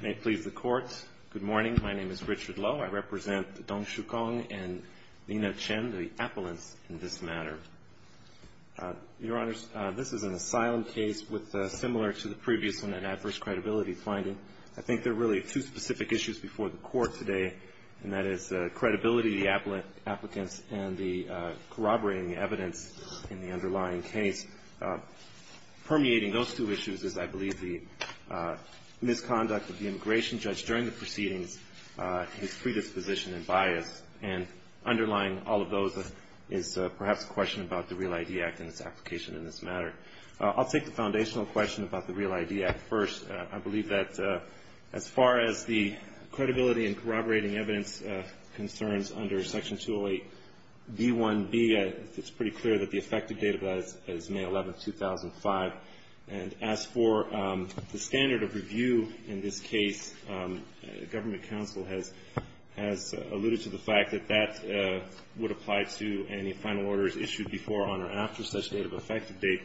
May it please the Court, good morning. My name is Richard Lowe. I represent the Dong Shu Kong and Nina Chen, the appellants in this matter. Your Honors, this is an asylum case with a similar to the previous one, an adverse credibility finding. I think there are really two specific issues before the Court today, and that is the credibility of the applicants and the corroborating evidence in the underlying case. Permeating those two issues is, I believe, the misconduct of the immigration judge during the proceedings, his predisposition and bias. And underlying all of those is perhaps a question about the Real ID Act and its application in this matter. I'll take the foundational question about the Real ID Act first. I believe that as far as the credibility and corroborating evidence concerns under Section 208b1b, it's pretty clear that the effective date of that is May 11th, 2005. And as for the standard of review in this case, Government counsel has alluded to the fact that that would apply to any final orders issued before, on, or after such date of effective date.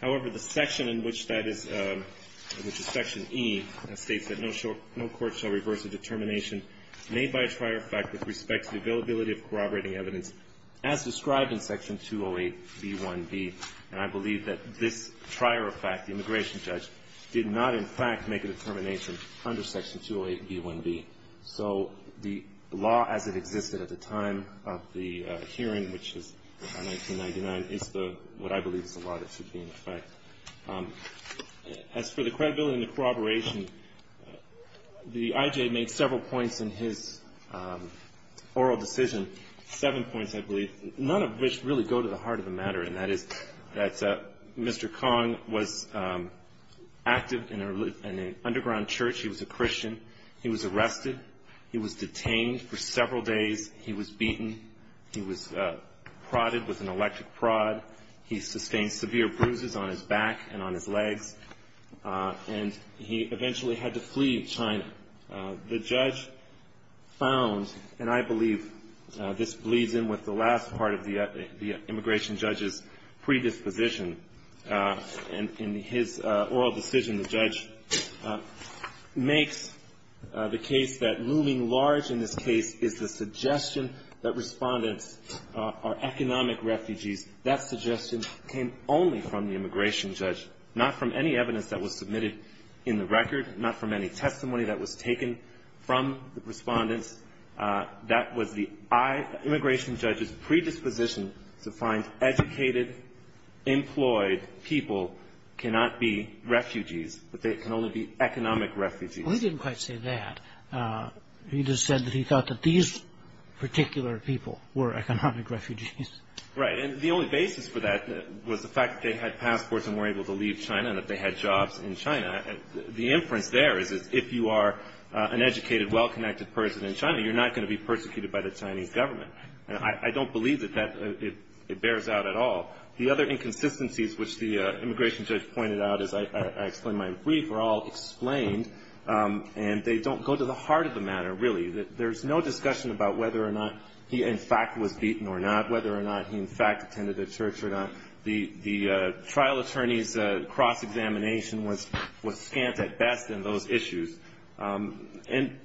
However, the section in which that is, which is Section E, states that no court shall reverse a determination made by a prior fact with respect to the availability of corroborating evidence as described in Section 208b1b. And I believe that this prior fact, the immigration judge, did not in fact make a determination under Section 208b1b. So the law as it existed at the time of the hearing, which is 1999, is the, what I believe is the law that should be in effect. As for the credibility and the corroboration, the I.J. made several points in his oral decision and seven points, I believe, none of which really go to the heart of the matter, and that is that Mr. Kong was active in an underground church. He was a Christian. He was arrested. He was detained for several days. He was beaten. He was prodded with an electric prod. He sustained severe bruises on his back and on his legs. And he eventually had to flee China. The judge found, and I believe this bleeds in with the last part of the immigration judge's predisposition. In his oral decision, the judge makes the case that looming large in this case is the suggestion that respondents are economic refugees. That suggestion came only from the immigration judge, not from any evidence that was submitted in the record, not from any testimony that was taken from the respondents. That was the immigration judge's predisposition to find educated, employed people cannot be refugees, that they can only be economic refugees. We didn't quite say that. He just said that he thought that these particular people were economic refugees. Right. And the only basis for that was the fact that they had passports and were able to leave China and that they had jobs in China. The inference there is that if you are an educated, well-connected person in China, you're not going to be persecuted by the Chinese government. And I don't believe that that bears out at all. The other inconsistencies, which the immigration judge pointed out, as I explained in my brief, are all explained. And they don't go to the heart of the matter, really. There's no discussion about whether or not he, in fact, was beaten or not, whether or not he, in fact, attended the church or not. The trial attorney's cross-examination was scant at best in those issues. And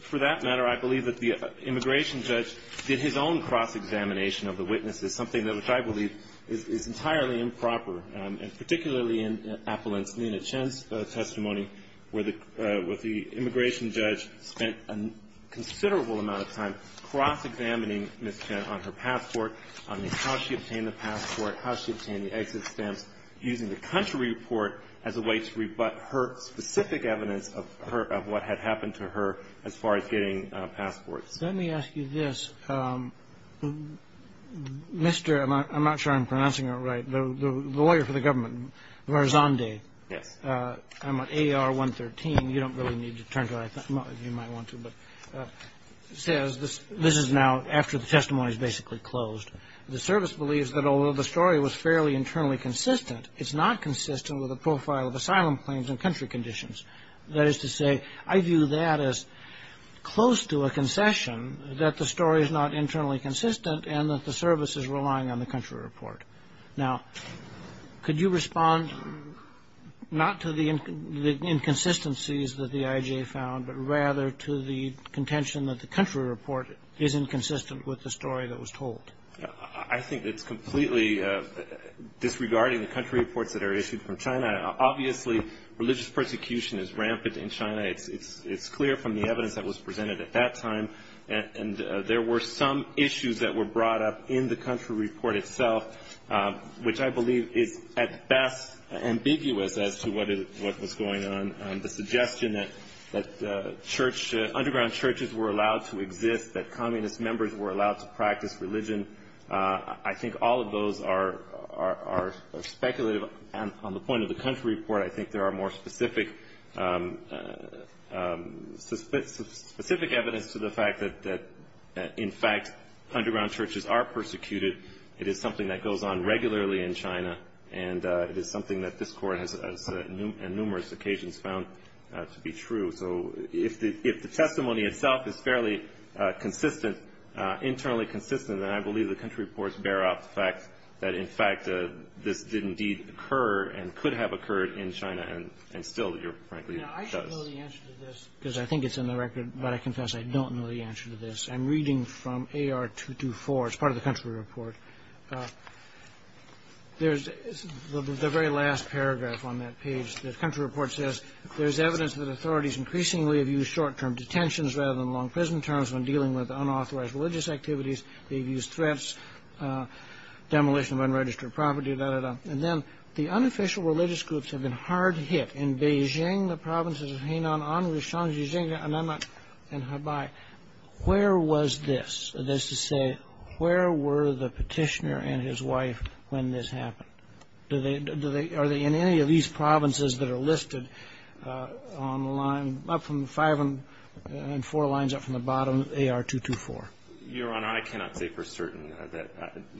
for that matter, I believe that the immigration judge did his own cross-examination of the witnesses, something which I believe is entirely improper, and particularly in Appellant's Nina Chen's testimony, where the immigration judge spent a considerable amount of time cross-examining Ms. Chen on her passport, on how she obtained the passport, how she obtained the exit stamps, using the country report as a way to rebut her specific evidence of her — of what had happened to her as far as getting passports. Kennedy. Let me ask you this. Mr. — I'm not sure I'm pronouncing it right. The lawyer for the government, Varzandeh. Gershengorn Yes. Kennedy. I'm at AR-113. You don't really need to turn to — well, you might want to, but — says this is now after the testimony is basically closed. The service believes that although the story was fairly internally consistent, it's not consistent with the profile of asylum claims and country conditions. That is to say, I view that as close to a concession that the story is not internally consistent and that the service is relying on the country report. Now, could you respond not to the inconsistencies that the IJA found, but rather to the inconsistencies of the contention that the country report is inconsistent with the story that was told? Gershengorn I think it's completely disregarding the country reports that are issued from China. Obviously, religious persecution is rampant in China. It's clear from the evidence that was presented at that time. And there were some issues that were brought up in the country report itself, which I believe is at best ambiguous as to what was going on. The suggestion that church — underground churches were allowed to exist, that communist members were allowed to practice religion, I think all of those are speculative. And on the point of the country report, I think there are more specific evidence to the fact that in fact underground churches are persecuted. It is something that goes on regularly in China, and it is something that this Court has on numerous occasions found to be true. So if the testimony itself is fairly consistent, internally consistent, then I believe the country reports bear out the fact that, in fact, this did indeed occur and could have occurred in China, and still, Your Honor, frankly, it does. Kagan Now, I should know the answer to this, because I think it's in the record, but I confess I don't know the answer to this. I'm reading from AR 224. It's part of the country report. There's the very last paragraph on that page. The country report says, there's evidence that authorities increasingly have used short-term detentions rather than long-prison terms when dealing with unauthorized religious activities. They've used threats, demolition of unregistered property, da-da-da. And then, the unofficial religious groups have been hard hit. In Beijing, the provinces of Hainan, Anhui, Shanxi, Jingnan, and Hubei, where was this? That is to say, where were the petitioner and his wife when this happened? Are they in any of these provinces that are listed on the line, up from the five and four lines up from the bottom, AR 224? Miller Your Honor, I cannot say for certain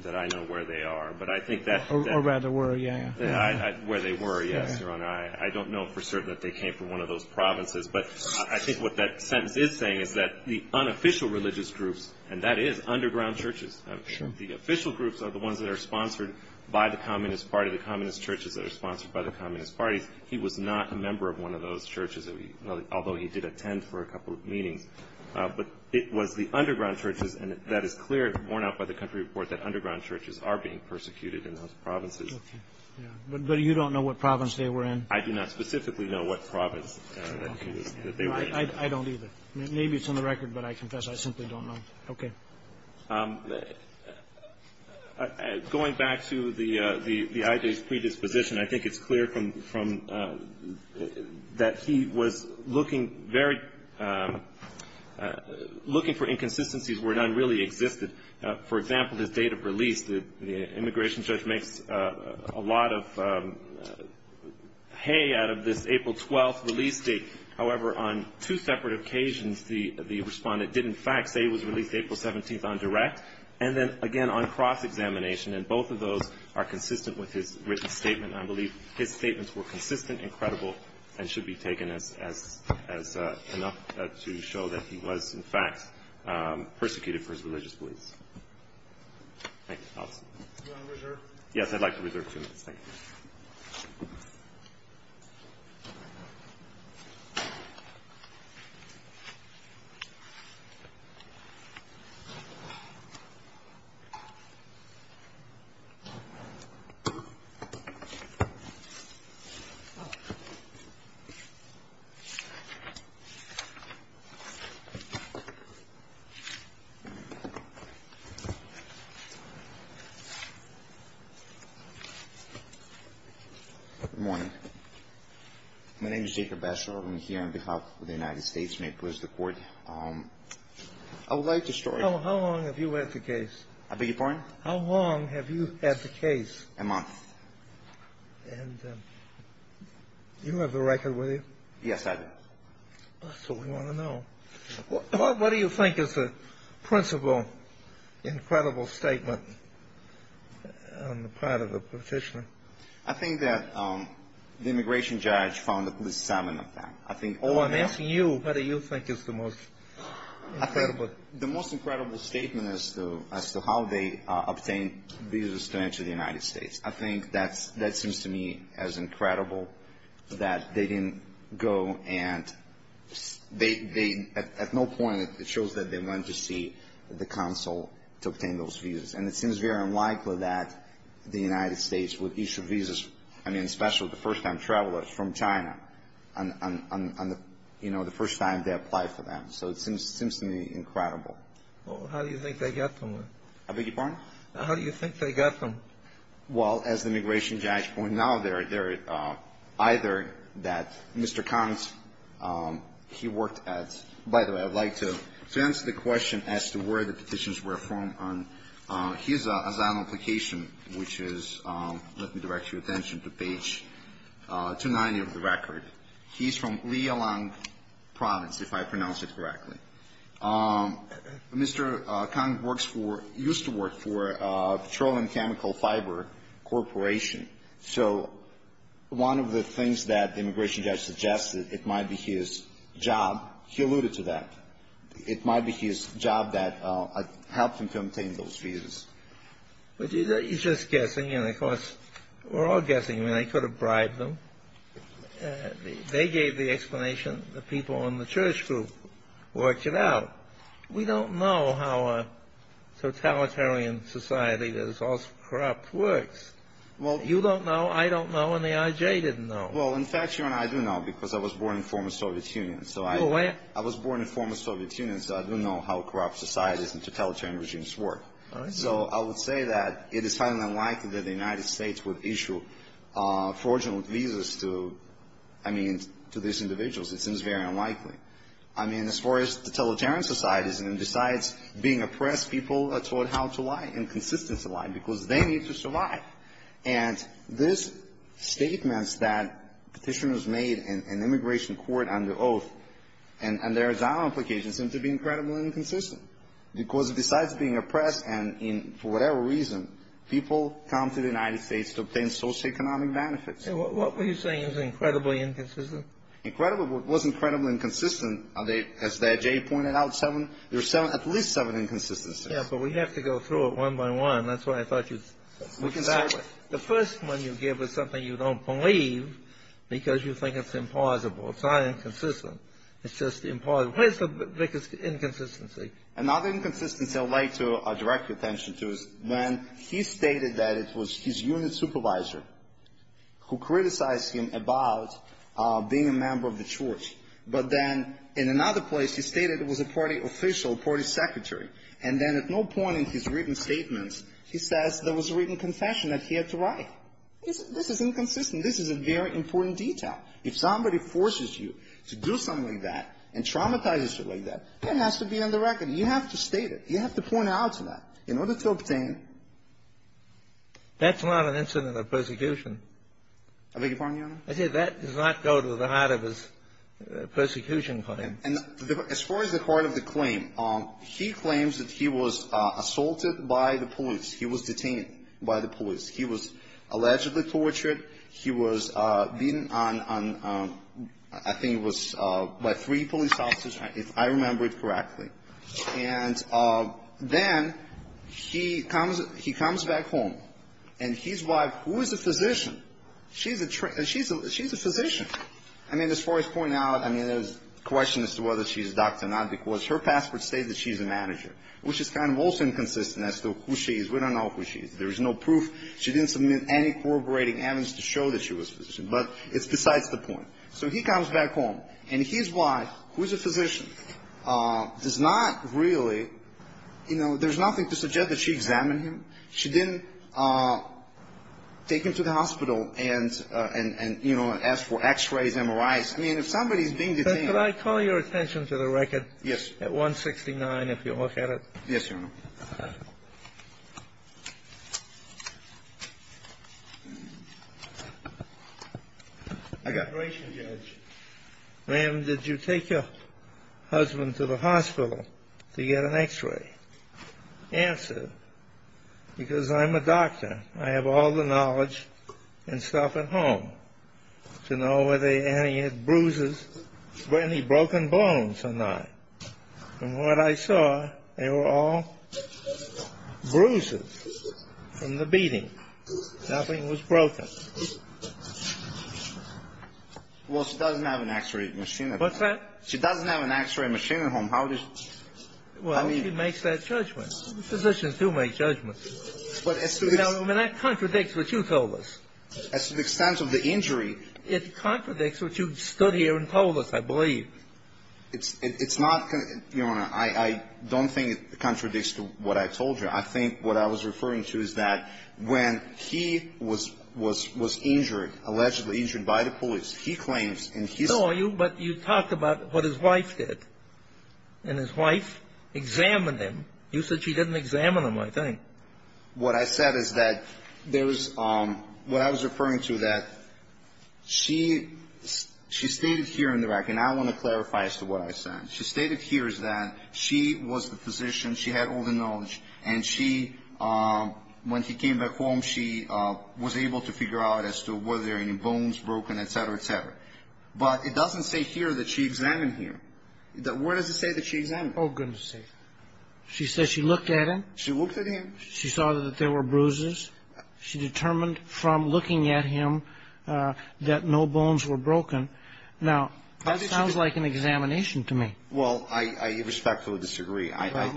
that I know where they are, but I think that... Kagan Or rather, where, yeah, yeah. Miller Where they were, yes, Your Honor. I don't know for certain that they came from one of those provinces. But I think what that sentence is saying is that the unofficial religious groups, and that is underground churches, the official groups are the ones that are sponsored by the Communist Party, the communist churches that are sponsored by the communist parties. He was not a member of one of those churches, although he did attend for a couple of meetings. But it was the underground churches, and that is clear, worn out by the country report, that underground churches are being persecuted in those provinces. Kennedy But you don't know what province they were in? Miller I do not specifically know what province that they were in. Kennedy Okay. I don't either. Maybe it's on the record, but I confess I simply don't know. Okay. Miller Going back to the IJ's predisposition, I think it's clear from, that he was looking very, looking for inconsistencies where none really existed. For example, his date of release, the immigration judge makes a lot of hay out of this April 12th release date. However, on two separate occasions the respondent did in fact say he was released April 17th on direct, and then again on cross-examination, and both of those are consistent with his written statement. I believe his statements were consistent and credible, and should be taken as enough to show that he was in fact persecuted for his religious beliefs. Thank you. Do you want to reserve? Yes, I'd like to reserve two minutes. Thank you. Good morning. My name is Jacob Bachelor. I'm here on behalf of the United States Immigration Court. I would like to start... How long have you had the case? I beg your pardon? How long have you had the case? A month. And you have the record with you? Yes, I do. What do you think is the most incredible statement on the part of the petitioner? I think that the immigration judge found at least seven of them. Oh, I'm asking you whether you think it's the most incredible. The most incredible statement as to how they obtained visas to enter the United States. I think that seems to me as incredible that they didn't go, and at no point it shows that they went to see the consul to obtain those visas. And it seems very unlikely that the United States would issue visas, I mean especially the first-time travelers from China, the first time they applied for them. So it seems to me incredible. How do you think they got them? I beg your pardon? How do you think they got them? Well, as the immigration judge pointed out, either that Mr. Connors, he worked at... By the way, I'd like to answer the question as to where the petitions were from on his asylum application, which is, let me direct your attention to page 290 of the record. He's from Lialong Province, if I pronounced it correctly. Mr. Connors works for, used to work for Petroleum Chemical Fiber Corporation. So one of the things that the immigration judge suggested, it might be his job, he alluded to that, it might be his job that helped him to obtain those visas. But you're just guessing, and of course, we're all guessing. I mean, they could have bribed them. They gave the explanation, the people in the church group worked it out. We don't know how a totalitarian society that is also corrupt works. You don't know, I don't know, and the IJ didn't know. Well, in fact, Your Honor, I do know, because I was born in former Soviet Union, so I... Go ahead. I was born in former Soviet Union, so I do know how corrupt societies and totalitarian regimes work. All right. So I would say that it is highly unlikely that the United States would issue fraudulent visas to, I mean, to these individuals. It seems very unlikely. I mean, as far as totalitarian societies, and besides being oppressed, people are taught how to lie, and consistently lie, because they need to survive. And these statements that Petitioners made in immigration court under oath and their asylum applications seem to be incredibly inconsistent, because besides being oppressed and in, for whatever reason, people come to the United States to obtain socioeconomic benefits. And what were you saying is incredibly inconsistent? Incredibly, it was incredibly inconsistent. As the IJ pointed out, seven, there's seven, at least seven inconsistencies. Yeah, but we have to go through it one by one. That's why I thought you... We can start with... The first one you give is something you don't believe, because you think it's implausible. It's not inconsistent. It's just implausible. What is the biggest inconsistency? Another inconsistency I would like to direct your attention to is when he stated that it was his unit supervisor who criticized him about being a member of the church. But then in another place, he stated it was a party official, party secretary. And then at no point in his written statements, he says there was a written confession that he had to write. This is inconsistent. This is a very important detail. If somebody forces you to do something like that and traumatizes you like that, that has to be on the record. You have to state it. You have to point out to that in order to obtain... That's not an incident of persecution. I beg your pardon, Your Honor? I said that does not go to the heart of his persecution claim. And as far as the heart of the claim, he claims that he was assaulted by the police. He was detained by the police. He was allegedly tortured. He was beaten on, I think it was by three police officers, if I remember it correctly. And then he comes back home, and his wife, who is a physician, she's a physician. I mean, as far as pointing out, I mean, there's a question as to whether she's a doctor or not, because her passport states that she's a manager, which is kind of also inconsistent as to who she is. We don't know who she is. There is no proof. She didn't submit any corroborating evidence to show that she was a physician. But it's besides the point. So he comes back home, and his wife, who is a physician, does not really, you know, there's nothing to suggest that she examined him. She didn't take him to the hospital and, you know, ask for X-rays, MRIs. I mean, if somebody's being detained… Could I call your attention to the record at 169, if you'll look at it? Yes, Your Honor. I got… Operation judge. Ma'am, did you take your husband to the hospital to get an X-ray? Answer. Because I'm a doctor. I have all the knowledge and stuff at home to know whether he had bruises, any broken bones or not. And what I saw, they were all bruises from the beating. Nothing was broken. Well, she doesn't have an X-ray machine at home. What's that? She doesn't have an X-ray machine at home. How does… Well, she makes that judgment. Physicians do make judgments. But as to the… I mean, that contradicts what you told us. As to the extent of the injury… It contradicts what you stood here and told us, I believe. It's not… Your Honor, I don't think it contradicts what I told you. I think what I was referring to is that when he was injured, allegedly injured by the police, he claims in his… I saw you, but you talked about what his wife did. And his wife examined him. You said she didn't examine him, I think. What I said is that there was… What I was referring to that she… She stated here in the record, and I want to clarify as to what I said. She stated here is that she was the physician. She had all the knowledge. And she, when she came back home, she was able to figure out as to whether there were any bones broken, etc., etc. But it doesn't say here that she examined him. Where does it say that she examined him? Oh, goodness sake. She says she looked at him. She looked at him. She saw that there were bruises. She determined from looking at him that no bones were broken. Now, that sounds like an examination to me. Well, I respectfully disagree. I…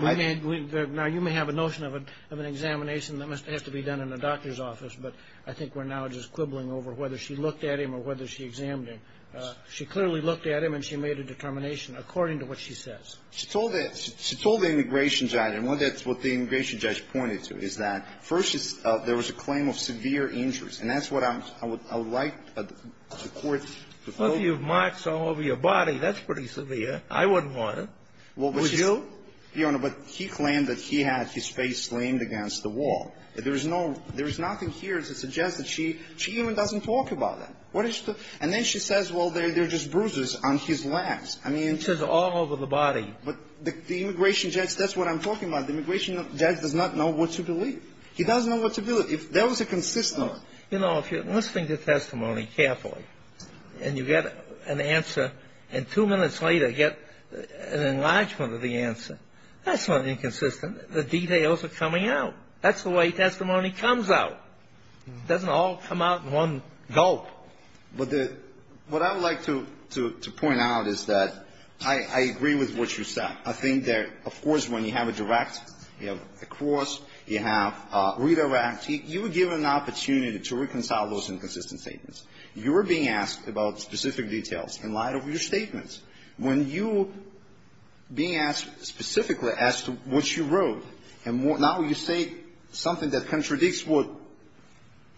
Now, you may have a notion of an examination that has to be done in a doctor's office. But I think we're now just quibbling over whether she looked at him or whether she examined him. She clearly looked at him, and she made a determination according to what she says. She told the immigration judge, and that's what the immigration judge pointed to, is that, first, there was a claim of severe injuries. And that's what I would like the Court to… Well, if you have marks all over your body, that's pretty severe. I wouldn't want it. Would you? Your Honor, but he claimed that he had his face slammed against the wall. There is no… There is nothing here to suggest that she… She even doesn't talk about that. What is… And then she says, well, there are just bruises on his legs. I mean… She says all over the body. But the immigration judge… That's what I'm talking about. The immigration judge does not know what to believe. He doesn't know what to believe. If there was a consistent… You know, if you're listening to testimony carefully, and you get an answer, and two minutes later get an enlargement of the answer, that's not inconsistent. The details are coming out. That's the way testimony comes out. It doesn't all come out in one gulp. But the… What I would like to point out is that I agree with what you said. I think that, of course, when you have a direct, you have a cross, you have a redirect, you were given an opportunity to reconcile those inconsistent statements. You were being asked about specific details in light of your statements. When you're being asked specifically as to what you wrote, and now you say something that contradicts what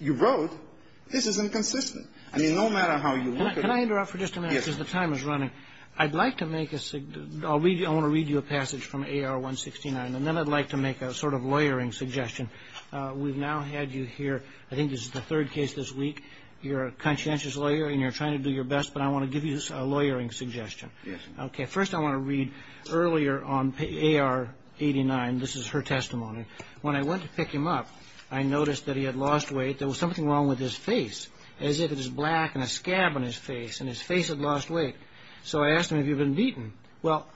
you wrote, this is inconsistent. I mean, no matter how you look at it… Can I interrupt for just a minute? Yes. Because the time is running. I'd like to make a… I'll read… I want to read you a passage from AR-169, and then I'd like to make a sort of lawyering suggestion. We've now had you here. I think this is the third case this week. You're a conscientious lawyer, and you're trying to do your best, but I want to give you a lawyering suggestion. Yes. Okay. First, I want to read earlier on AR-89. This is her testimony. When I went to pick him up, I noticed that he had lost weight. There was something wrong with his face, as if it was black and a scab on his face, and his face had lost weight. So I asked him, have you been beaten? Well,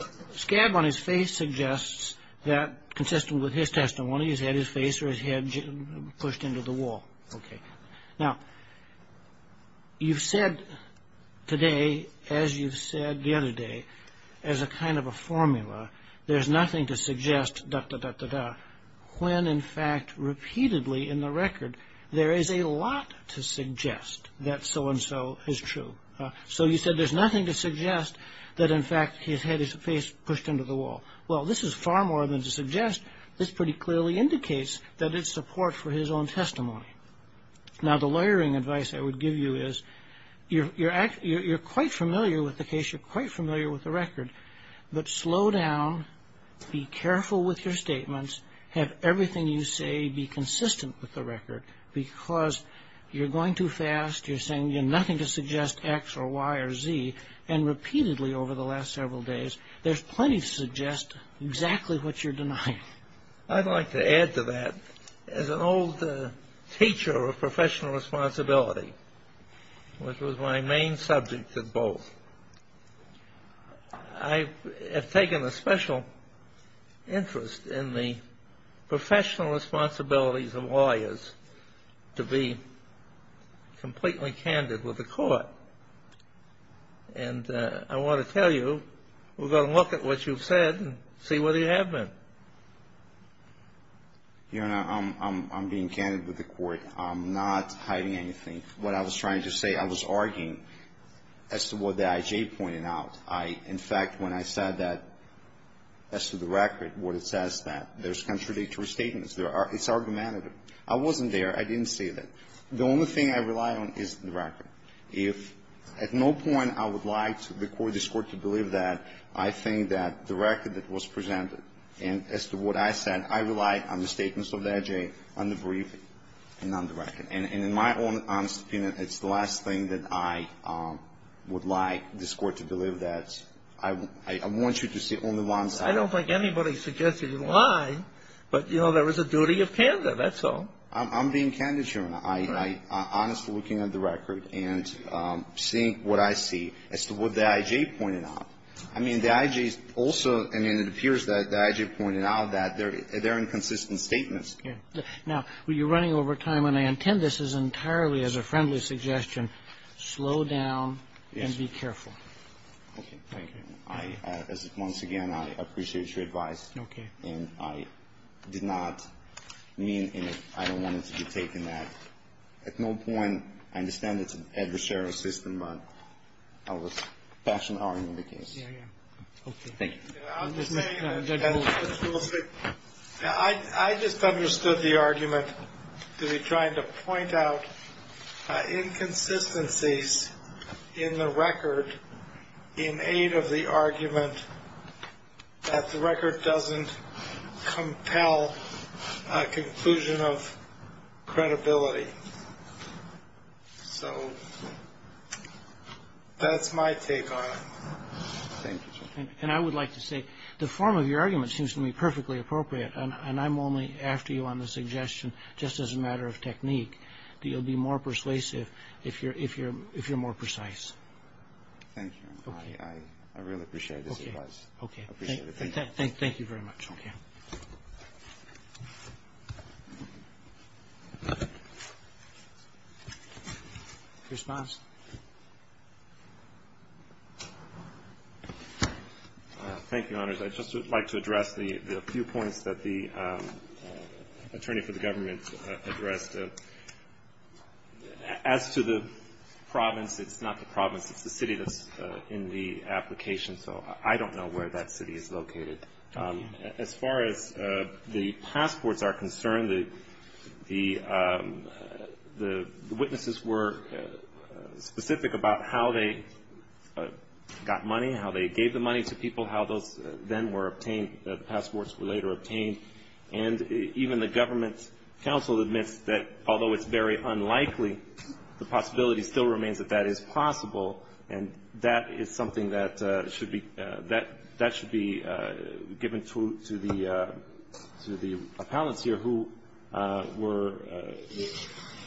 a scab on his face suggests that, consistent with his testimony, he's had his face or his head pushed into the wall. Okay. Now, you've said today, as you've said the other day, as a kind of a formula, there's nothing to suggest, da-da-da-da-da, when, in fact, repeatedly in the record, there is a lot to suggest that so-and-so is true. So you said there's nothing to suggest that, in fact, he's had his face pushed into the wall. Well, this is far more than to suggest. This pretty clearly indicates that it's support for his own testimony. Now, the lawyering advice I would give you is, you're quite familiar with the case, you're quite familiar with the record, but slow down, be careful with your statements, have everything you say be consistent with the record, because you're going too fast, you're saying nothing to suggest X or Y or Z, and repeatedly over the last several days, there's plenty to suggest exactly what you're denying. I'd like to add to that. As an old teacher of professional responsibility, which was my main subject at both, I have taken a special interest in the professional responsibilities of lawyers to be completely candid with the court. And I want to tell you, we're going to look at what you've said and see whether you have been. Your Honor, I'm being candid with the court. I'm not hiding anything. What I was trying to say, I was arguing as to what the I.J. pointed out. In fact, when I said that as to the record, what it says is that there's contradictory statements. It's argumentative. I wasn't there. I didn't say that. The only thing I rely on is the record. If at no point I would like the court to believe that, I think that the record that was presented, and as to what I said, I relied on the statements of the I.J., on the briefing, and on the record. And in my own honest opinion, it's the last thing that I would like this court to believe that. I want you to see only one side. I don't think anybody suggests that you lie. But, you know, there is a duty of candor, that's all. I'm being candid, Your Honor. I'm honestly looking at the record and seeing what I see as to what the I.J. pointed out. I mean, the I.J. is also, I mean, it appears that the I.J. pointed out that there are inconsistent statements. Now, you're running over time, and I intend this as entirely as a friendly suggestion. Slow down and be careful. Okay. Thank you. I, as once again, I appreciate your advice. Okay. And I did not mean, and I don't want it to be taken that at no point, I understand it's an adversarial system, but I was passionately arguing the case. Yeah, yeah. Thank you. I'm just saying that I just understood the argument to be trying to point out inconsistencies in the record in aid of the argument that the record doesn't compel a conclusion of credibility. So that's my take on it. Thank you, Your Honor. And I would like to say the form of your argument seems to me perfectly appropriate, and I'm only after you on the suggestion, just as a matter of technique, that you'll be more persuasive if you're more precise. Thank you, Your Honor. Okay. I really appreciate this advice. Okay. I appreciate it. Thank you very much. Okay. Your response? Thank you, Your Honors. I'd just like to address the few points that the attorney for the government addressed. As to the province, it's not the province. It's the city that's in the application. So I don't know where that city is located. As far as the passports are concerned, the witnesses were specific about how they got money, how they gave the money to people, how those then were obtained, the passports were later obtained. And even the government counsel admits that although it's very unlikely, the possibility still remains that that is possible, and that is something that should be given to the appellants here who were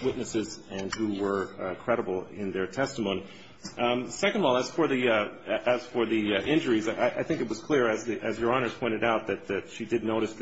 witnesses and who were credible in their testimony. Second of all, as for the injuries, I think it was clear, as Your Honors pointed out, that she did notice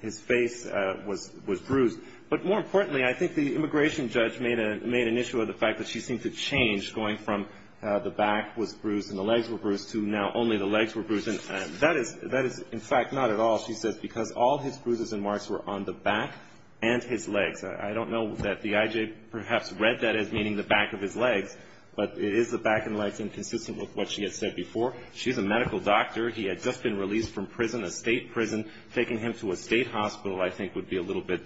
his face was bruised. But more importantly, I think the immigration judge made an issue of the fact that she seemed to change going from the back was bruised and the legs were bruised to now only the legs were bruised. And that is, in fact, not at all, she says, because all his bruises and marks were on the back and his legs. I don't know that the IJ perhaps read that as meaning the back of his legs, but it is the back and legs inconsistent with what she had said before. She's a medical doctor. He had just been released from prison, a state prison. Taking him to a state hospital, I think, would be a little bit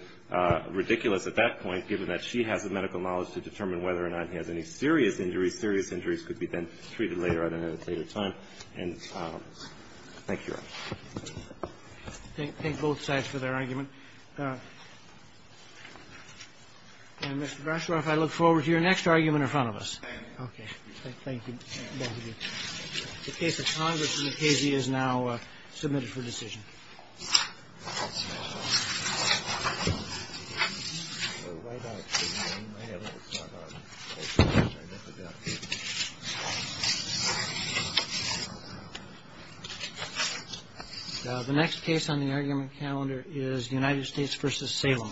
ridiculous. At that point, given that she has the medical knowledge to determine whether or not he has any serious injuries, serious injuries could be then treated later on at a later time. And thank you, Your Honor. Roberts. Thank both sides for their argument. And, Mr. Grashoff, I look forward to your next argument in front of us. Okay. Thank you. The case of Congress v. Casey is now submitted for decision. The next case on the argument calendar is United States v. Salem.